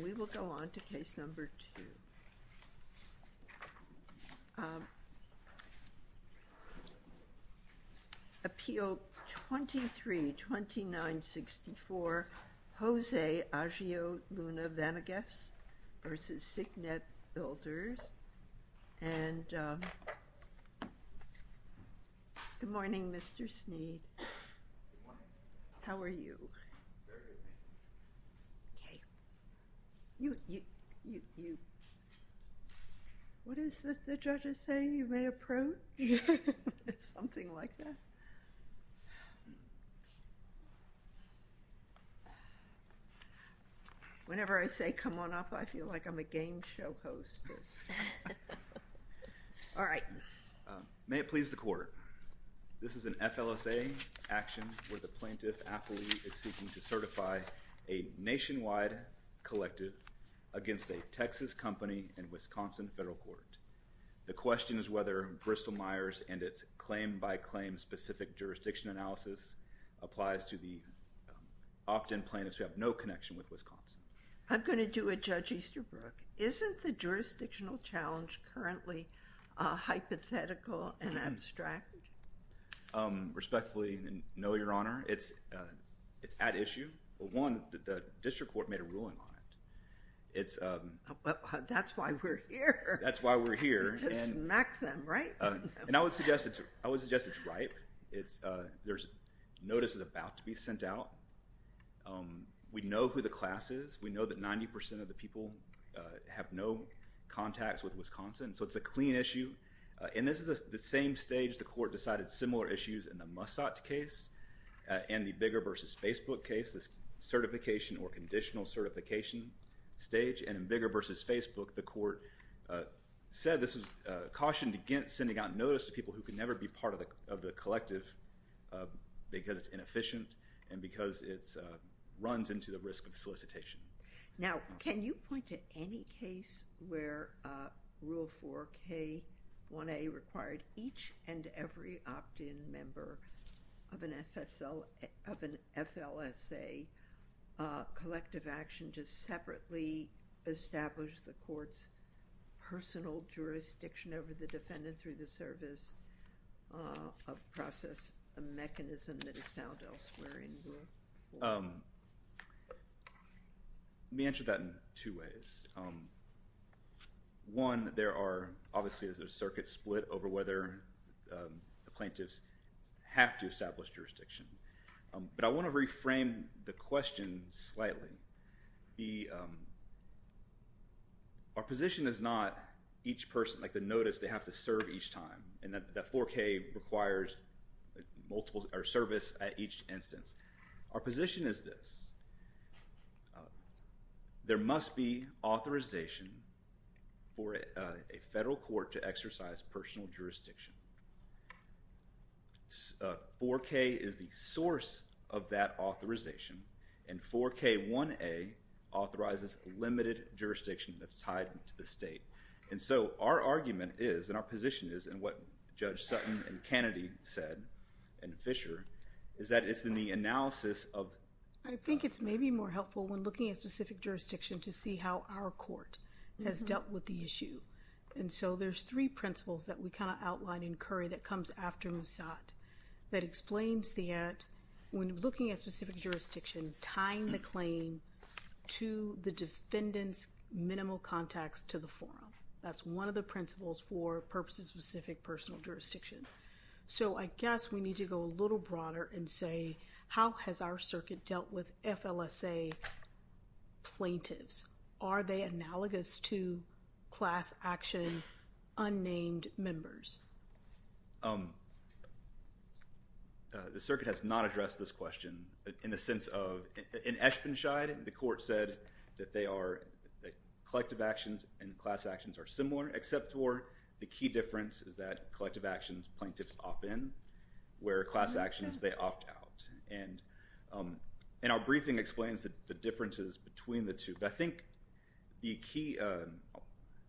We will go on to case number two. Appeal 23-2964, Jose Ageo Luna Vanegas v. Signet Builders, and good morning Mr. Sneed. How are you? You, you, you, what is the judge is saying? You may approach? It's something like that. Whenever I say come on up I feel like I'm a game show host. All right. May it please the court. This is an FLSA action where the plaintiff affiliate is seeking to certify a nationwide collective against a Texas company in Wisconsin Federal Court. The question is whether Bristol-Myers and its claim-by-claim specific jurisdiction analysis applies to the opt-in plaintiffs who have no connection with Wisconsin. I'm gonna do it Judge Easterbrook. Isn't the jurisdictional challenge currently hypothetical and abstract? Respectfully, no, Your Honor. It's, it's at issue. One, the district court made a ruling on it. It's, that's why we're here. That's why we're here. To smack them, right? And I would suggest it's, I would suggest it's right. It's, there's, notice is about to be sent out. We know who the class is. We know that 90% of the people have no contacts with Wisconsin. So it's a clean issue. And this is the same stage the court decided similar issues in the Mussat case and the Bigger versus Facebook case. This certification or conditional certification stage and in Bigger versus Facebook the court said this was cautioned against sending out notice to people who could never be part of the, of the collective because it's inefficient and because it's runs into the risk of solicitation. Now can you point to any case where Rule 4k1a required each and every opt-in member of an FSL, of an FLSA collective action to separately establish the court's personal jurisdiction over the defendant through the service of process, a One, there are, obviously there's a circuit split over whether the plaintiffs have to establish jurisdiction. But I want to reframe the question slightly. The, our position is not each person, like the notice they have to serve each time and that that 4k requires multiple or service at each instance. Our position is this. There must be authorization for a federal court to exercise personal jurisdiction. 4k is the source of that authorization and 4k1a authorizes limited jurisdiction that's tied to the state. And so our argument is and our position is and what Judge Sutton and Kennedy said and Fisher is that it's in the analysis of. I think it's maybe more helpful when looking at specific jurisdiction to see how our court has dealt with the issue. And so there's three principles that we kind of outline in Curry that comes after Musat that explains that when looking at specific jurisdiction, tying the claim to the defendant's minimal contacts to the forum. That's one of the principles for purposes specific personal jurisdiction. So I guess we need to go a little broader and say how has our circuit dealt with FLSA plaintiffs? Are they analogous to class action unnamed members? The circuit has not addressed this question in the sense of in Eschbenscheid the court said that they are collective actions and class actions are similar except for the key difference is that collective actions plaintiffs often where class actions they opt out. And in our briefing explains that the differences between the two. But I think the key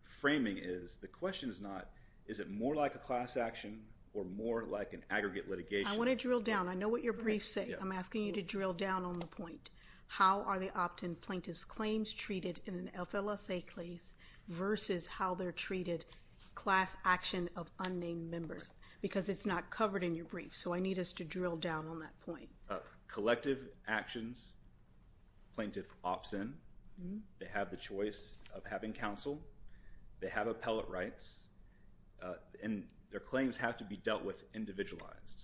framing is the question is not is it more like a class action or more like an aggregate litigation? I want to drill down. I know what your briefs say. I'm asking you to drill down on the point. How are the opt-in plaintiffs claims treated in an FLSA case versus how they're treated class action of unnamed members? Because it's not covered in your brief. So I need us to drill down on that point. Collective actions plaintiff opts in. They have the choice of having counsel. They have appellate rights and their claims have to be dealt with individualized.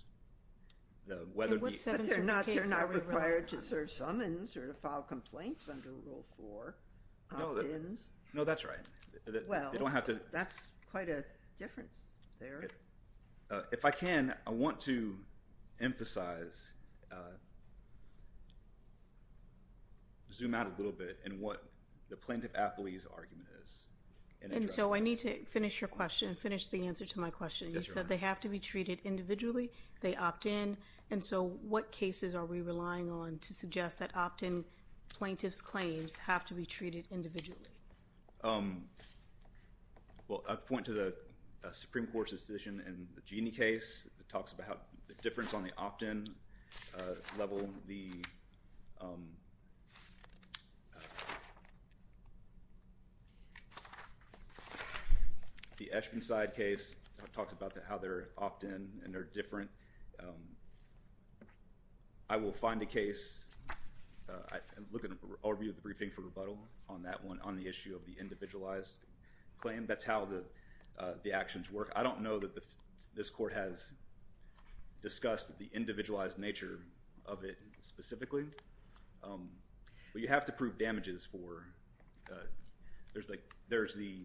They're not required to serve summons or to file complaints under rule 4 opt-ins. No that's right. Well you don't have to. That's quite a difference there. If I can I want to emphasize zoom out a little bit and what the plaintiff appellee's argument is. And so I need to finish your question and finish the answer to my question. You said they have to be treated individually. They opt in. And so what cases are we relying on to suggest that opt-in plaintiffs claims have to be dealt with? Well I point to the Supreme Court's decision in the Jeanne case. It talks about the difference on the opt-in level. The Eshkin side case talked about that how they're opt-in and they're different. I will find a case. I look at all review the briefing for rebuttal on that one on the issue of the individualized claim. That's how the the actions work. I don't know that the this court has discussed the individualized nature of it specifically. But you have to prove damages for there's like there's the.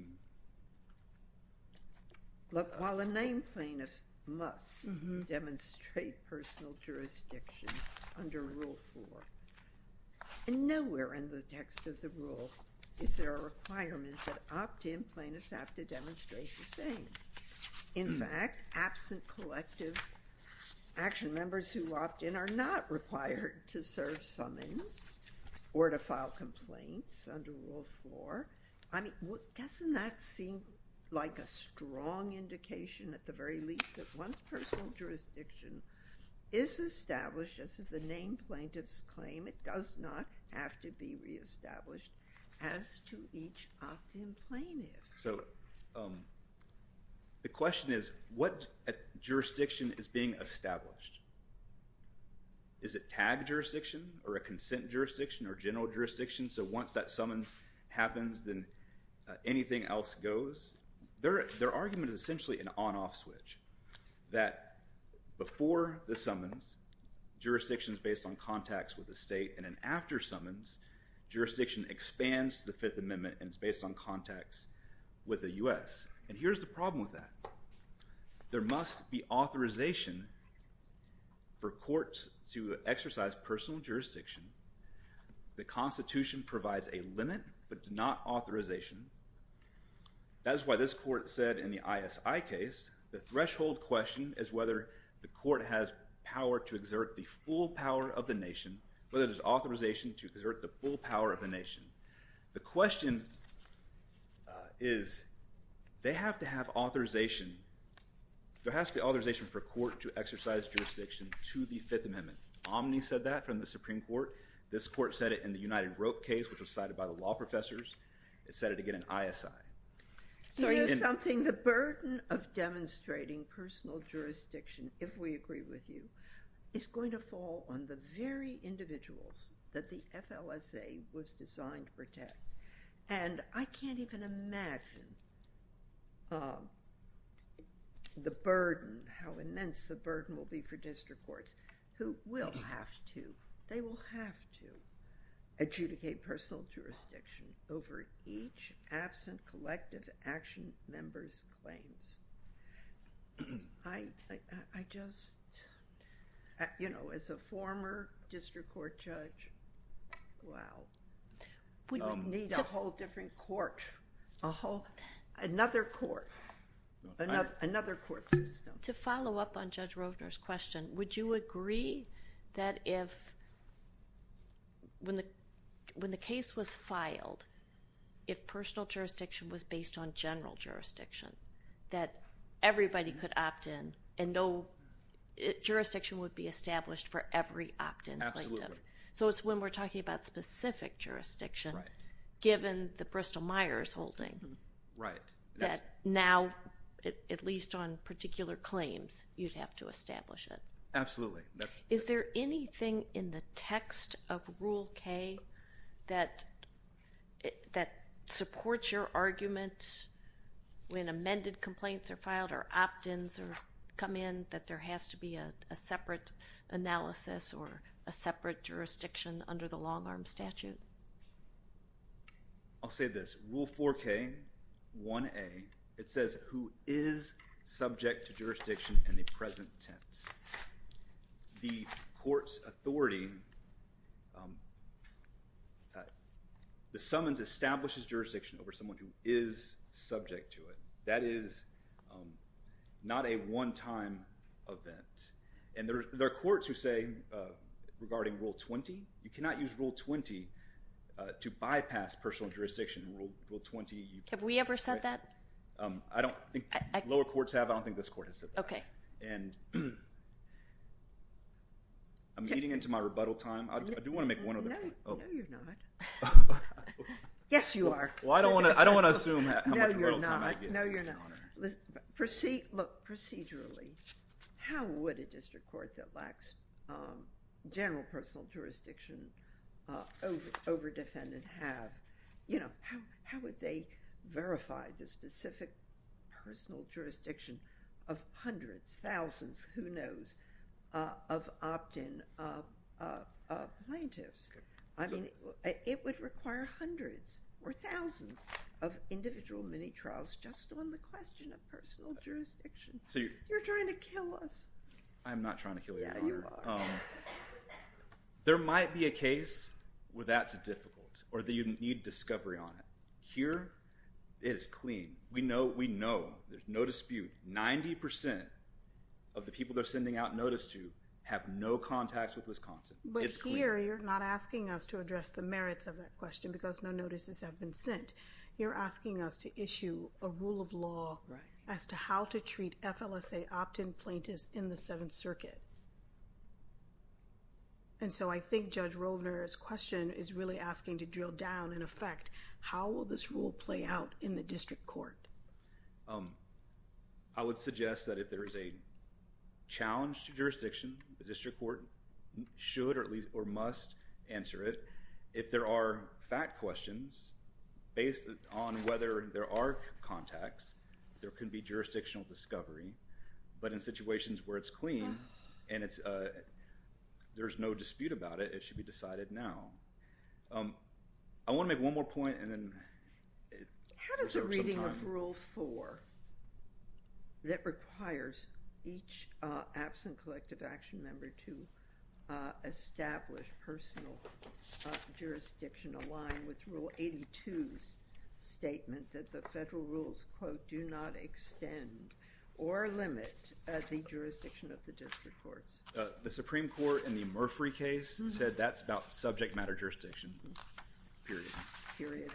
Look while a name plaintiff must demonstrate personal jurisdiction under Rule 4. And nowhere in the text of the rule is there a requirement that opt-in plaintiffs have to demonstrate the same. In fact absent collective action members who opt in are not required to serve summons or to file complaints under Rule 4. I mean what doesn't that seem like a strong indication at the very least that one personal jurisdiction is established as the name plaintiffs claim. It does not have to be re-established as to each opt-in plaintiff. So the question is what jurisdiction is being established? Is it tagged jurisdiction or a consent jurisdiction or general jurisdiction so once that summons happens then anything else goes? Their argument is essentially an on-off switch. That before the summons jurisdiction is based on contacts with the state and an after summons jurisdiction expands to the Fifth Amendment and it's based on contacts with the U.S. And here's the problem with that. There must be authorization. The Constitution provides a limit but not authorization. That's why this court said in the ISI case the threshold question is whether the court has power to exert the full power of the nation. Whether there's authorization to exert the full power of the nation. The question is they have to have authorization. There has to be authorization for court to exercise jurisdiction to the Fifth Amendment. Omni said that from the Supreme Court. This court said it in the United Rope case which was cited by the law professors. It said it again in ISI. The burden of demonstrating personal jurisdiction, if we agree with you, is going to fall on the very individuals that the FLSA was designed to protect. And I can't even imagine the burden how immense the burden will be for district courts who will have to, they will have to, adjudicate personal jurisdiction over each absent collective action member's claims. I just... as a former district court judge, wow. We need a whole different court, a whole another court, another court system. To follow up on Judge Rogner's question, would you agree that if... when the case was filed, if personal jurisdiction was based on general jurisdiction, that everybody could opt in and no jurisdiction would be established for every opt-in collective? Absolutely. It's when we're talking about specific jurisdiction given the Bristol claims, you'd have to establish it. Absolutely. Is there anything in the text of Rule K that supports your argument when amended complaints are filed or opt-ins come in that there has to be a separate analysis or a separate jurisdiction under the long-arm statute? I'll say this. Rule 4K-1A, it says who is subject to jurisdiction in the present tense. The court's authority, the summons establishes jurisdiction over someone who is subject to it. That is not a one-time event. And there are courts who say, regarding Rule 20, you cannot use Rule 20 to bypass personal jurisdiction. Rule 20... Have we ever said that? I don't think... lower courts have, but I don't think this court has said that. Okay. I'm getting into my rebuttal time. I do want to make one other point. No, you're not. Yes, you are. Well, I don't want to assume how much rebuttal time I get. No, you're not. No, you're not. Look, procedurally, how would a district court that lacks general personal jurisdiction over-defend and have... how would they verify the specific personal jurisdiction of hundreds, thousands, who knows, of opt-in plaintiffs? I mean, it would require hundreds or thousands of individual mini-trials just on the question of personal jurisdiction. You're trying to kill us. I'm not trying to kill you, Your Honor. There might be a case where that's difficult or that you need discovery on it. Here, it is clean. We know. There's no dispute. 90% of the people they're sending out notice to have no contacts with Wisconsin. But here, you're not asking us to address the merits of that question because no notices have been sent. You're asking us to issue a rule of order in the Seventh Circuit. And so, I think Judge Roldner's question is really asking to drill down, in effect, how will this rule play out in the district court? I would suggest that if there is a challenge to jurisdiction, the district court should or must answer it. If there are fact questions, but in situations where it's clean and there's no dispute about it, it should be decided now. I want to make one more point and then... How does a reading of Rule 4 that requires each absent collective action member to establish personal jurisdiction align with Rule 82's or limit the jurisdiction of the district courts? The Supreme Court in the Murphree case said that's about subject matter jurisdiction. Period. Period.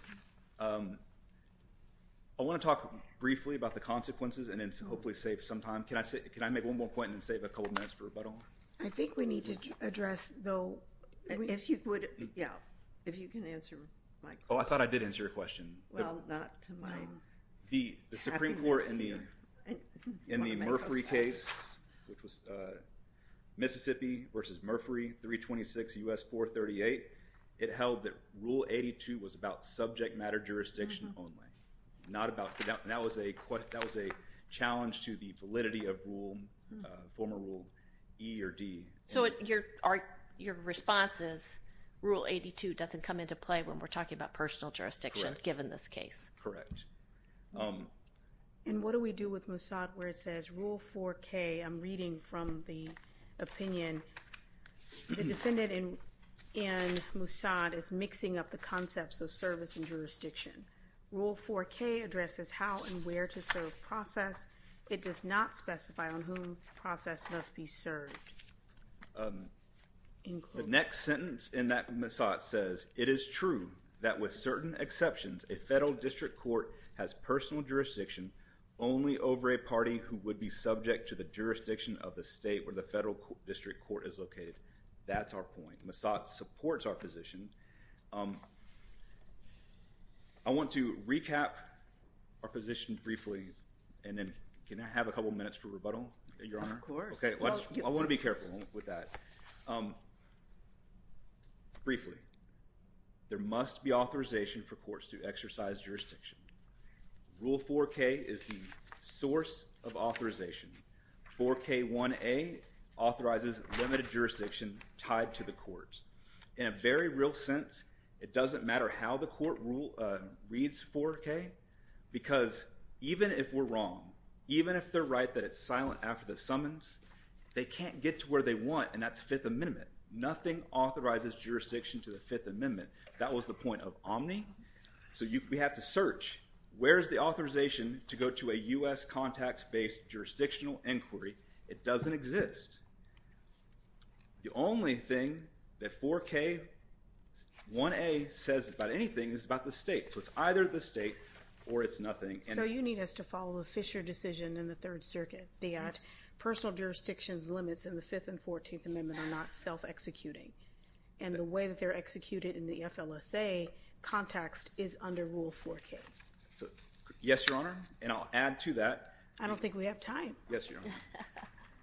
I want to talk briefly about the consequences and then hopefully save some time. Can I make one more point and then save a couple minutes for rebuttal? I think we need to address, though... If you could... Yeah. If you can answer, Mike. Oh, I thought I did answer your question. Well, not to my... The Supreme Court in the Murphree case, which was Mississippi versus Murphree, 326 U.S. 438, it held that Rule 82 was about subject matter jurisdiction only. That was a challenge to the validity of former Rule E or D. So your response is Rule 82 doesn't come into play when we're talking about personal jurisdiction given this case? Correct. And what do we do with Moussad where it says Rule 4K, I'm reading from the opinion, the defendant in Moussad is mixing up the concepts of service and jurisdiction. Rule 4K addresses how and where to serve process. It does not specify on whom process must be served. The next sentence in that Moussad says, it is true that with certain exceptions, a federal district court has personal jurisdiction only over a party who would be subject to the jurisdiction of the state where the federal district court is That's our point. Moussad supports our position. I want to recap our position briefly and then can I have a couple minutes for rebuttal, Your Honor? Of course. Okay. I want to be careful with that. Briefly, there must be authorization for courts to exercise jurisdiction. Rule 4K is the source of authorization. 4K1A authorizes limited jurisdiction tied to the courts. In a very real sense, it doesn't matter how the court reads 4K because even if we're wrong, even if they're right that it's silent after the summons, they can't get to where they want and that's Fifth Amendment. Nothing authorizes jurisdiction to the Fifth Amendment. That was the point of Omni. So we have to search. Where is the authorization to go to a U.S. contacts-based jurisdictional inquiry? It doesn't exist. The only thing that 4K1A says about anything is about the state. So it's either the state or it's nothing. So you need us to follow the Fisher decision in the Third Circuit, the personal jurisdictions limits in the Fifth and they're not self-executing. And the way that they're executed in the FLSA context is under Rule 4K. Yes, Your Honor. And I'll add to that. I don't think we have time. Yes, Your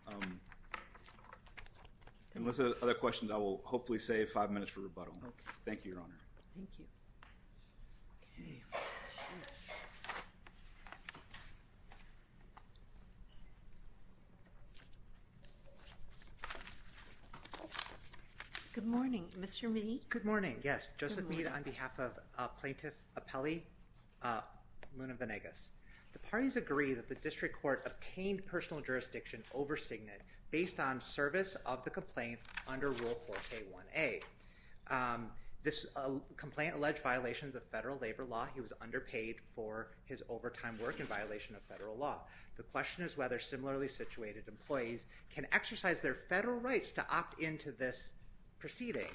Honor. Unless there are other questions, I will hopefully save five minutes for rebuttal. Thank you, Your Honor. Good morning. Mr. Meade. Good morning. Yes. Joseph Meade on behalf of Plaintiff Apelli Luna Venegas. The parties agree that the District Court obtained personal jurisdiction over Signet based on service of the complaint under Rule 4K1A. This complaint alleged violations of federal labor law. He was underpaid for his overtime work in violation of federal law. The question is whether similarly situated employees can exercise their federal rights to opt into this proceeding.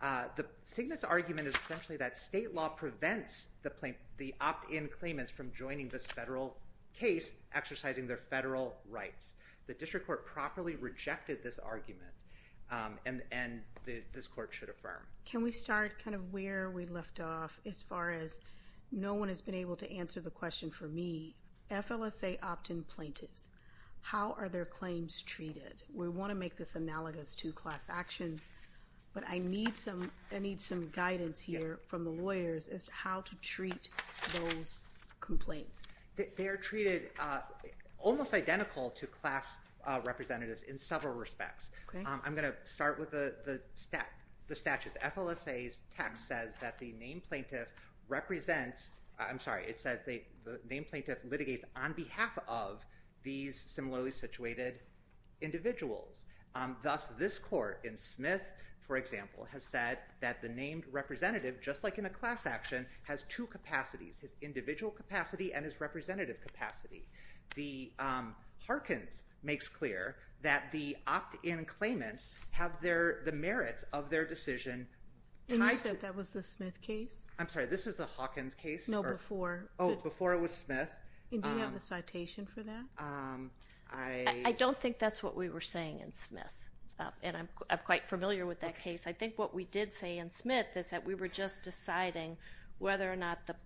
The Signet's argument is essentially that state law prevents the opt-in claimants from joining this federal case exercising their federal rights. The District Court properly rejected this argument and this court should affirm. Can we start kind of where we left off as far as no one has been able to answer the question for me? FLSA opt-in plaintiffs. How are their claims treated? We want to make this analogous to class actions, but I need some I need some guidance here from the lawyers as to how to treat those complaints. They are treated almost identical to class representatives in several respects. I'm going to start with the statute. FLSA's text says that the named plaintiff represents. I'm sorry. It says the named plaintiff litigates on behalf of these similarly situated individuals. Thus this court in Smith, for example, has said that the named representative just like in a class action has two capacities his individual capacity and his representative capacity the Harkins makes clear that the opt-in claimants have their the merits of their decision. And I said that was the Smith case. I'm sorry. This is the Hawkins case. No before. Oh before it was Smith. And do you have a citation for that? I don't think that's what we were saying in Smith. And I'm quite familiar with that case. I think what we did say in Smith is that we were just deciding whether or not the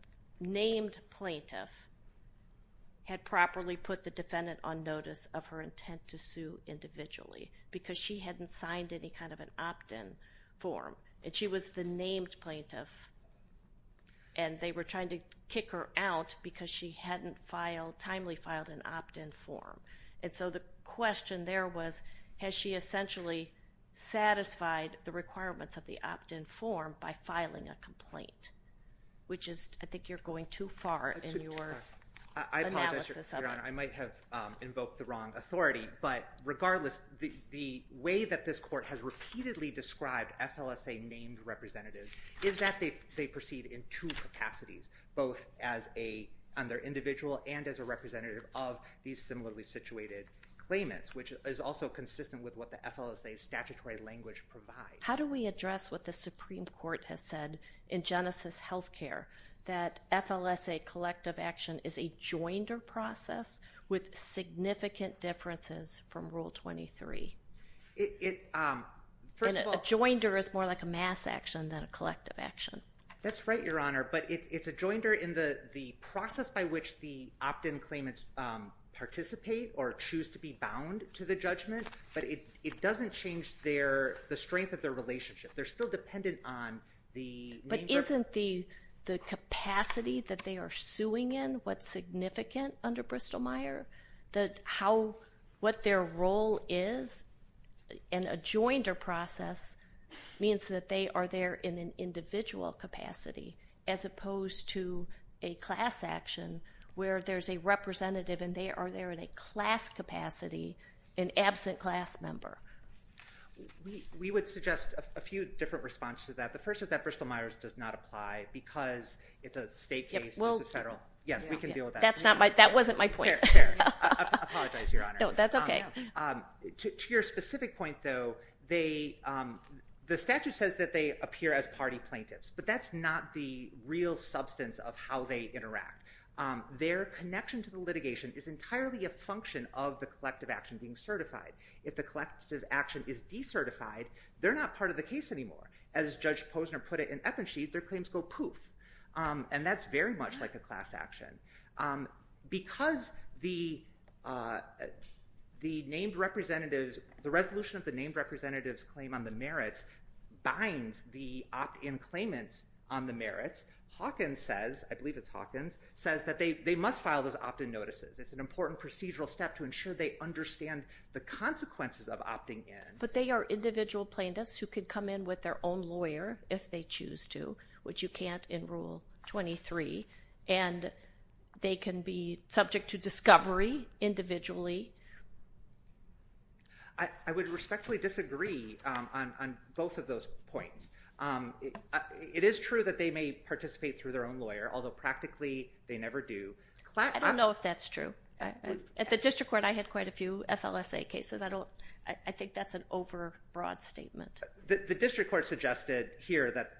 named plaintiff. Had properly put the defendant on notice of her intent to sue individually because she hadn't signed any kind of an opt-in form and she was the named plaintiff. And they were trying to kick her out because she hadn't filed timely filed an opt-in form. And so the question there was has she essentially satisfied the requirements of the opt-in form by filing a complaint which is I think you're going too far in your analysis. I might have invoked the wrong authority. But regardless the way that this court has repeatedly described FLSA named representatives is that they proceed in two capacities both as a under individual and as a representative of these similarly situated claimants which is also consistent with what the FLSA statutory language provides. How do we address what the Supreme Court has said in Genesis health care that FLSA collective action is a joined process with significant differences from Rule 23. It first of all joined her is more like a mass action than a collective action. That's right Your Honor. But it's a joined her in the process by which the opt-in claimants participate or choose to be bound to the judgment. But it doesn't change their the strength of their relationship. They're still dependent on the. But isn't the the capacity that they are suing in what's significant under Bristol Meyer that how what their role is in a joined or process means that they are there in an individual capacity as opposed to a class action where there's a representative and they are there in a class capacity an absent class member. We would suggest a few different responses that the first is that Bristol Myers does not apply because it's a state case. Well federal. Yes we can do that. That's not right. That wasn't my point. That's OK. To your specific point though they the statute says that they appear as party plaintiffs but that's not the real substance of how they interact. Their connection to the litigation is entirely a function of the collective action being certified. If the collective action is decertified they're not part of the case anymore. As Judge Posner put it in effigy their claims go poof. And that's very much like a class action. Because the the named representatives the resolution of the named representatives claim on the merits binds the opt in claimants on the merits. Hawkins says I believe it's Hawkins says that they must file those opt in notices. It's an important procedural step to ensure they understand the consequences of opting in. But they are individual plaintiffs who could come in with their own lawyer if they choose to which you can't in rule 23. And they can be subject to discovery individually. I would respectfully disagree on both of those points. It is true that they may participate through their own lawyer although practically they never do. I don't know if that's true. At the district court I had quite a few FLSA cases. I don't I think that's an over broad statement. The district court suggested here that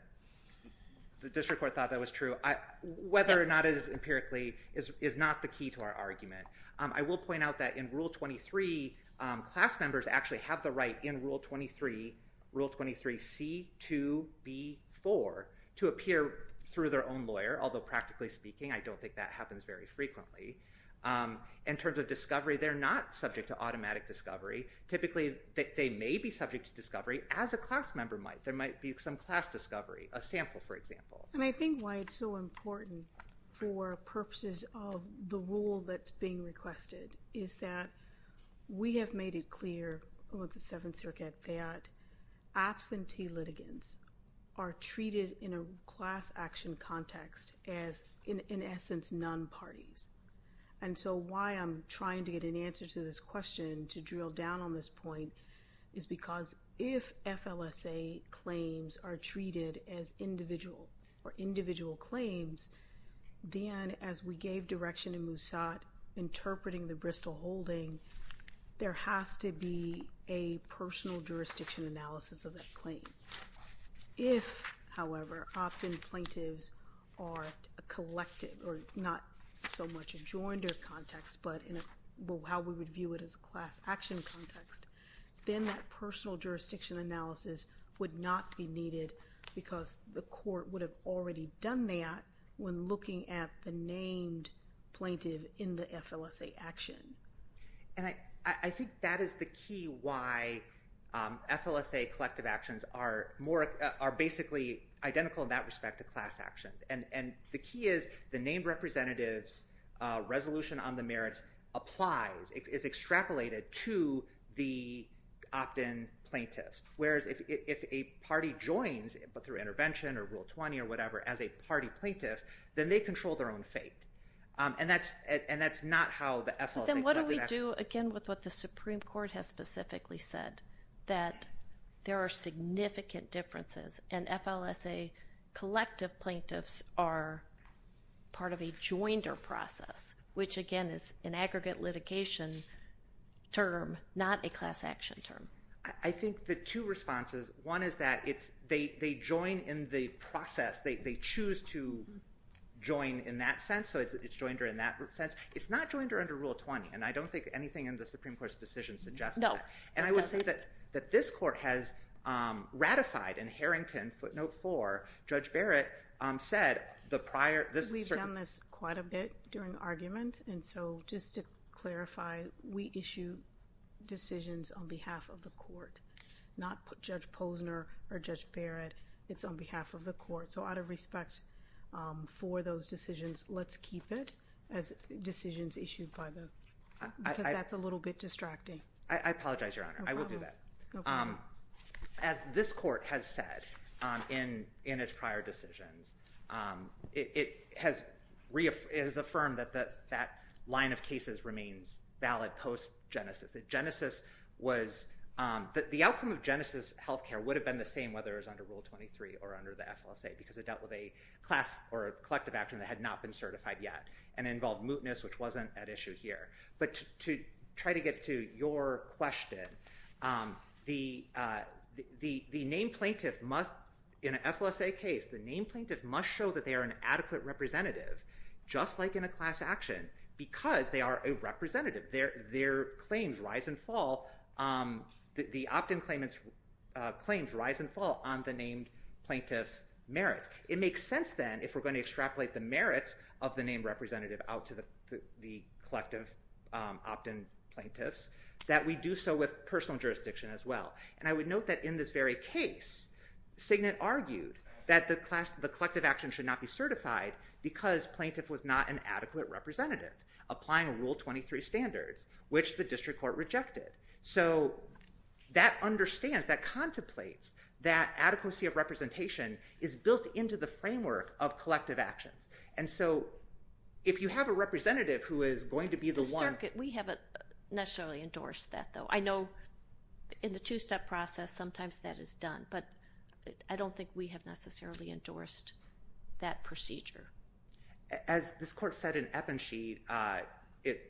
the district court thought that was true. Whether or not it is empirically is not the key to our argument. I will point out that in rule 23 class members actually have the right in rule 23 rule 23 C 2 B 4 to appear through their own lawyer although practically speaking I don't think that happens very frequently in terms of discovery. They're not subject to automatic discovery. Typically they may be subject to discovery as a class member might there might be some class discovery a sample for example. I think why it's so important for purposes of the rule that's being requested is that we have made it clear with the Seventh Circuit that absentee litigants are treated in a class action context as in essence non parties. And so why I'm trying to get an answer to this question to drill down on this point is because if FLSA claims are treated as individual or individual claims then as we gave direction in Moosad interpreting the Bristol holding there has to be a personal jurisdiction analysis of that claim. If however often plaintiffs are a collective or not so much adjoined or context but in how we would view it as a class action context then that personal jurisdiction analysis would not be needed because the court would have already done that when looking at the named plaintiff in the FLSA action. And I think that is the key why FLSA collective actions are more are basically identical in that respect to class action. And the key is the named representatives resolution on the merits applies is extrapolated to the opt in plaintiffs whereas if a party joins but through intervention or rule 20 or whatever as a party plaintiff then they control their own fate. And that's it and that's not how the FLSA. Then what do we do again with what the Supreme Court has specifically said that there are significant differences and FLSA collective plaintiffs are part of a joined or process which again is an aggregate litigation term not a class action term. I think the two responses. One is that it's they join in the process. They choose to join in that sense. So it's joined or in that sense. It's not joined or under Rule 20 and I don't think anything in the Supreme Court's decision suggests no. And I would say that that this court has ratified and Harrington footnote for Judge Barrett said the prior. This is we've done this quite a bit during argument. And so just to clarify we issue decisions on behalf of the court not put Judge Posner or Judge Barrett. It's on behalf of the court. So out of respect for those decisions let's keep it as decisions issued by the. That's a little bit distracting. I apologize Your Honor. I will do that. As this court has said in its prior decisions it has reaffirmed is affirmed that that line of cases remains valid post Genesis that Genesis was that the outcome of Genesis health care would have been the same whether it was under Rule 23 or under the FSA because it dealt with a class or a collective action that had not been certified yet and involved mootness which wasn't an issue here. But to try to get to your question the the the name plaintiff must in an FSA case the name plaintiff must show that they are an adequate representative just like in a class action because they are a representative. Their their claims rise and fall. The opt in claimants claims rise and fall on the name plaintiffs merits. It makes sense then if we're going to extrapolate the merits of the name representative out to the collective opt in plaintiffs that we do so with personal jurisdiction as well. And I would note that in this very case signet argued that the class the collective action should not be certified because plaintiff was not an adequate representative applying Rule 23 standards which the district court rejected. So that understands that contemplates that adequacy of representation is built into the framework of collective actions. And so if you have a representative who is going to be the one that we haven't necessarily endorsed that though I know in the two step process sometimes that is But I don't think we have necessarily endorsed that procedure. As this court said in Eppensheed it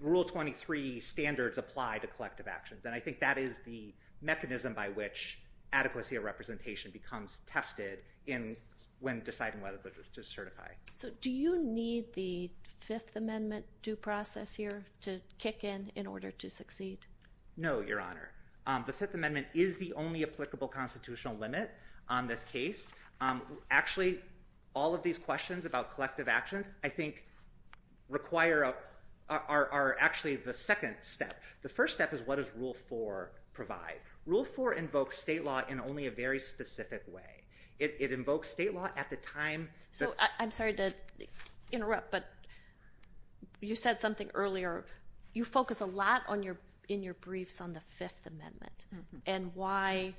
Rule 23 standards apply to collective actions. And I think that is the mechanism by which adequacy of representation becomes tested in when deciding whether to certify. So do you need the Fifth Amendment due process here to kick in in order to succeed. No Your Honor. The Fifth Amendment is the only applicable constitutional limit on this case. Actually all of these questions about collective actions I think require are actually the second step. The first step is what is rule for provide rule for invoke state law in only a very specific way. It invokes state law at the time. So I'm sorry to interrupt but you said something earlier. You focus a lot on your in your briefs on the Fifth Amendment and why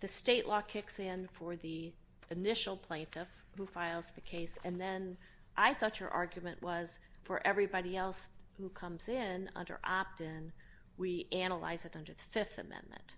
the state law kicks in for the initial plaintiff who files the case. And then I thought your argument was for everybody else who comes in under opt in. We analyze it under the Fifth Amendment.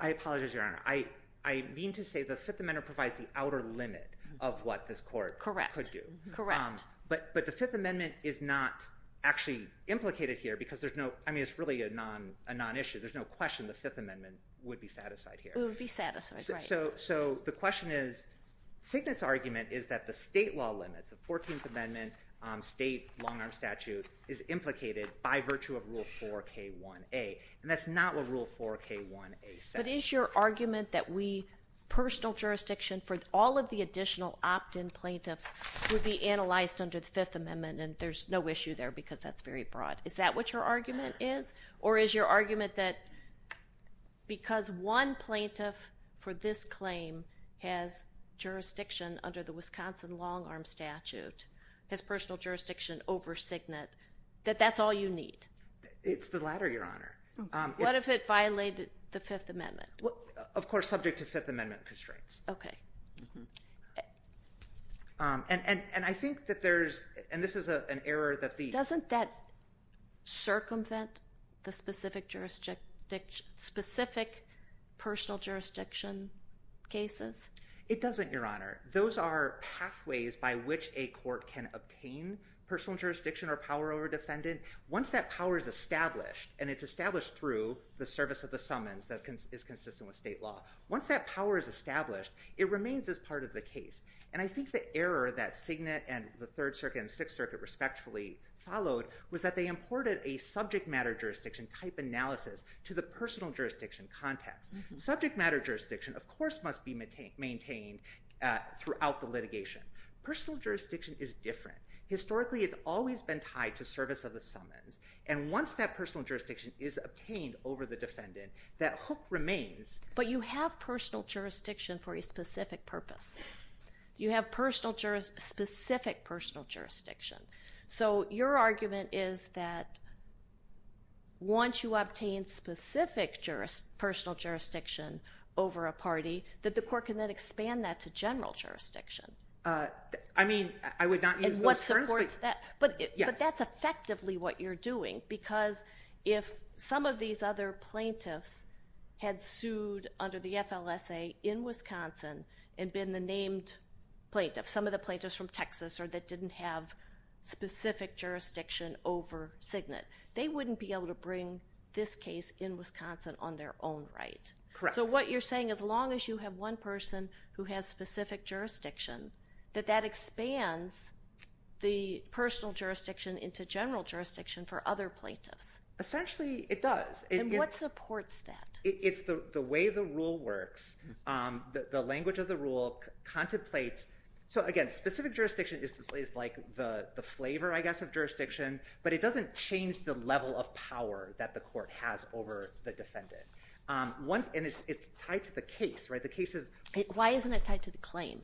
I apologize Your Honor. I mean to say the Fifth Amendment provides the outer limit of what this court correct could do. Correct. But but the Fifth Amendment is not actually implicated here because there's no I mean it's really a non a non issue. There's no question the Fifth Amendment would be satisfied here would be satisfied. So. So the question is sickness argument is that the state law limits the 14th Amendment state long arm statute is implicated by virtue of Rule 4 K 1 a. And that's not what Rule 4 K 1 a. But is your argument that we personal jurisdiction for all of the additional opt in plaintiffs would be analyzed under the Fifth Amendment and there's no issue there because is that what your argument is or is your argument that because one plaintiff for this claim has jurisdiction under the Wisconsin long arm statute his personal jurisdiction over signet that that's all you need. It's the latter Your Honor. What if it violated the Fifth Amendment. Well of course subject to Fifth Amendment constraints. OK. And I think that there's and this is an error that the Fifth Amendment doesn't that circumvent the specific jurisdiction specific personal jurisdiction cases. It doesn't Your Honor. Those are pathways by which a court can obtain personal jurisdiction or power over defendant. Once that power is established and it's established through the service of the summons that is consistent with state law. Once that power is established it remains as part of the And I think the error that signet and the Third Circuit and Sixth Circuit respectfully followed was that they imported a subject matter jurisdiction type analysis to the personal jurisdiction context subject matter jurisdiction of course must be maintained maintained throughout the litigation. Personal jurisdiction is different. Historically it's always been tied to service of the summons and once that personal jurisdiction is obtained over the defendant that hook remains. But you have personal jurisdiction for a specific purpose. You have personal jurors specific personal jurisdiction. So your argument is that once you obtain specific jurors personal jurisdiction over a party that the court can then expand that to general jurisdiction. I mean I would not. And what supports that. But yes that's effectively what you're doing because if some of these other plaintiffs had sued under the FLSA in Wisconsin and been the named plaintiff some of the plaintiffs from Texas or that didn't have specific jurisdiction over signet they wouldn't be able to bring this case in Wisconsin on their own right. So what you're saying as long as you have one person who has specific jurisdiction that that expands the personal jurisdiction into general jurisdiction for other Essentially it does. And what supports that. It's the way the rule works. The language of the rule contemplates. So again specific jurisdiction is like the flavor I guess of jurisdiction but it doesn't change the level of power that the court has over the defendant. And it's tied to the case right. The case is. Why isn't it tied to the claim.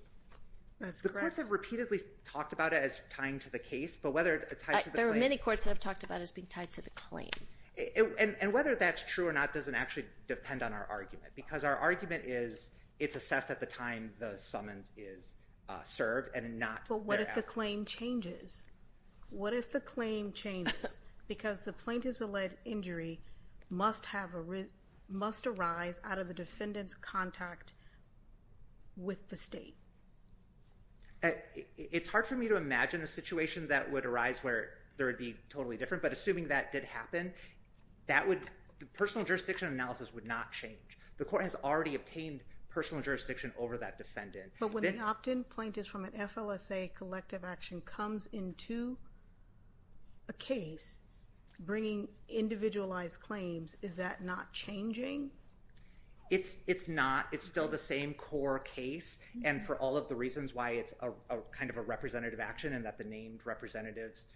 The courts have repeatedly talked about it as tying to the case but whether there are many courts that have talked about as being tied to the claim and whether the case has to depend on our argument because our argument is it's assessed at the time the summons is served and not. What if the claim changes. What if the claim changes because the plaintiffs alleged injury must have a risk must arise out of the defendant's contact. With the state. It's hard for me to imagine a situation that would arise where there would be totally different. But assuming that did happen that would personal jurisdiction analysis would not change. The court has already obtained personal jurisdiction over that defendant. But when they opt in plaintiffs from an FLSA collective action comes into a case bringing individualized claims. Is that not changing. It's it's not. It's still the same core case. I think that's the reason why it's a kind of a representative action and that the named representatives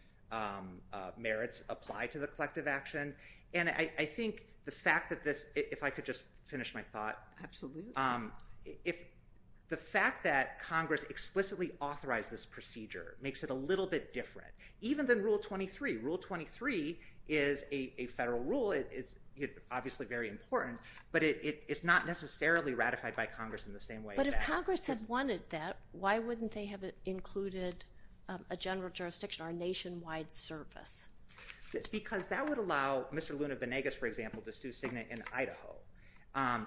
merits apply to the collective action. And I think the fact that this if I could just finish my thought. Absolutely. If the fact that Congress explicitly authorized this procedure makes it a little bit different even than rule 23 rule 23 is a federal rule. It's obviously very important but it's not necessarily ratified by Congress in the same way. Why wouldn't they have included a general jurisdiction or nationwide service. Because that would allow Mr. Luna Venegas for example to sue Signe in Idaho.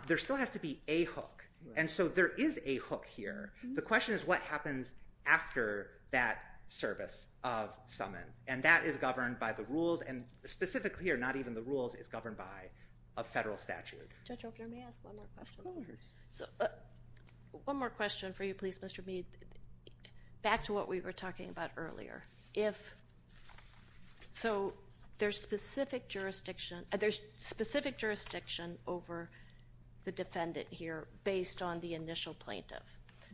There still has to be a hook. And so there is a hook here. The question is what happens after that service of summons and that is governed by the rules and specifically or not even the rules is governed by a federal statute. Judge Oakley may I ask one more question. So one more question for you please Mr. Luna Venegas. Back to what we were talking about earlier. If so there's specific jurisdiction there's specific jurisdiction over the defendant here based on the initial plaintiff.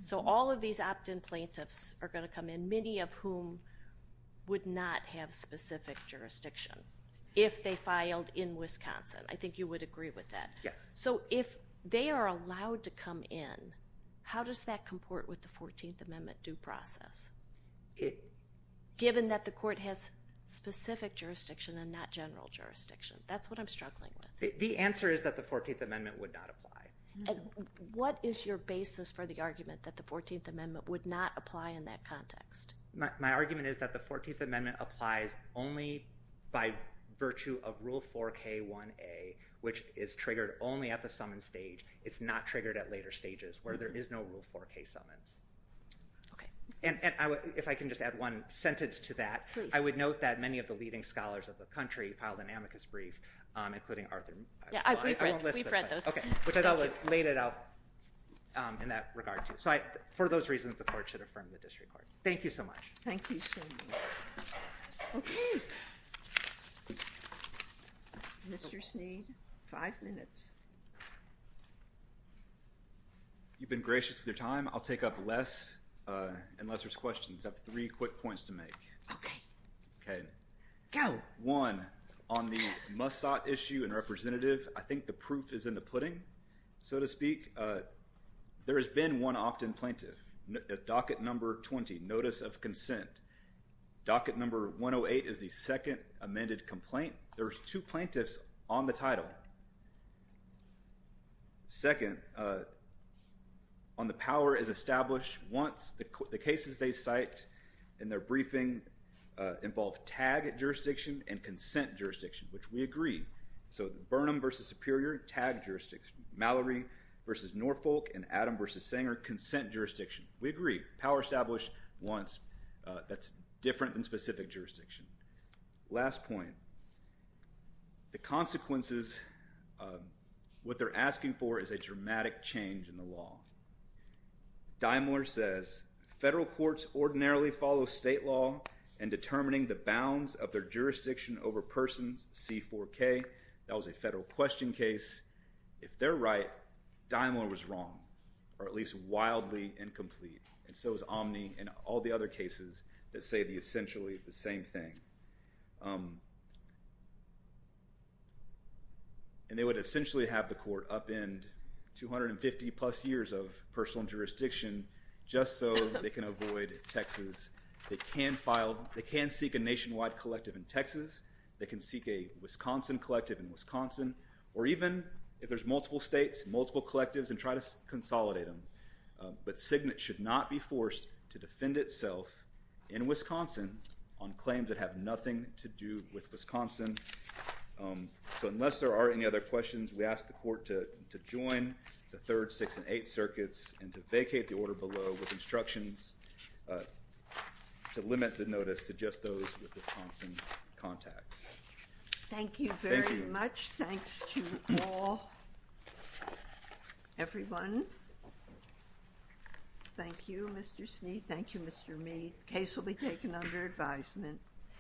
So all of these opt in plaintiffs are going to come in many of whom would not have specific jurisdiction if they filed in Wisconsin. I think you would agree with that. Yes. So if they are allowed to come in how does that comport with the 14th Amendment due process. Given that the court has specific jurisdiction and not general jurisdiction. That's what I'm struggling with. The answer is that the 14th Amendment would not apply. What is your basis for the argument that the 14th Amendment would not apply in that context. My argument is that the 14th Amendment applies only by virtue of Rule 4k 1a which is triggered only at the summons stage. It's not triggered at later stages where there's a case summons. OK. And if I can just add one sentence to that. I would note that many of the leading scholars of the country filed an amicus brief including Arthur. I've read those. OK. Which I thought laid it out in that regard. So for those reasons the court should affirm the district court. Thank you so much. Thank you. OK. Mr. Sneed five minutes. You've been gracious with your time. I'll take up less unless there's questions. I have three quick points to make. OK. OK. Go. One on the Mossad issue and representative. I think the proof is in the pudding so to speak. There has been one opt in plaintiff docket number 20 notice of consent docket number 1 0 8 is the second amended complaint. There's two plaintiffs on the title. Second. On the power is established once the cases they cite in their briefing involve tag jurisdiction and consent jurisdiction which we agree. So Burnham versus superior tag jurisdiction Mallory versus Norfolk and Adam versus Sanger consent jurisdiction. We agree. Power established once. That's different than specific jurisdiction. Last point. The consequences of what they're asking for is a dramatic change in the law. Daimler says federal courts ordinarily follow state law and determining the bounds of their jurisdiction over persons C 4 K that was a federal question case. If they're right Daimler was wrong or at least wildly incomplete. And so is Omni and all the other cases that say the essentially the same thing. And they would essentially have the court up in 250 plus years of personal jurisdiction just so they can avoid Texas. They can file. They can seek a nationwide collective in Texas. They can seek a Wisconsin collective in Wisconsin or even if there's multiple states multiple collectives and try to consolidate them. But signet should not be forced to defend itself in Wisconsin on claims that have nothing to do with Wisconsin. So unless there are any other questions we ask the court to join the third six and eight circuits and to vacate the order below with instructions to limit the notice to just those with Wisconsin contacts. Thank you very much. Thanks to all everyone. Thank you Mr. Snead. Thank you Mr. Meade. Case will be taken under advisement.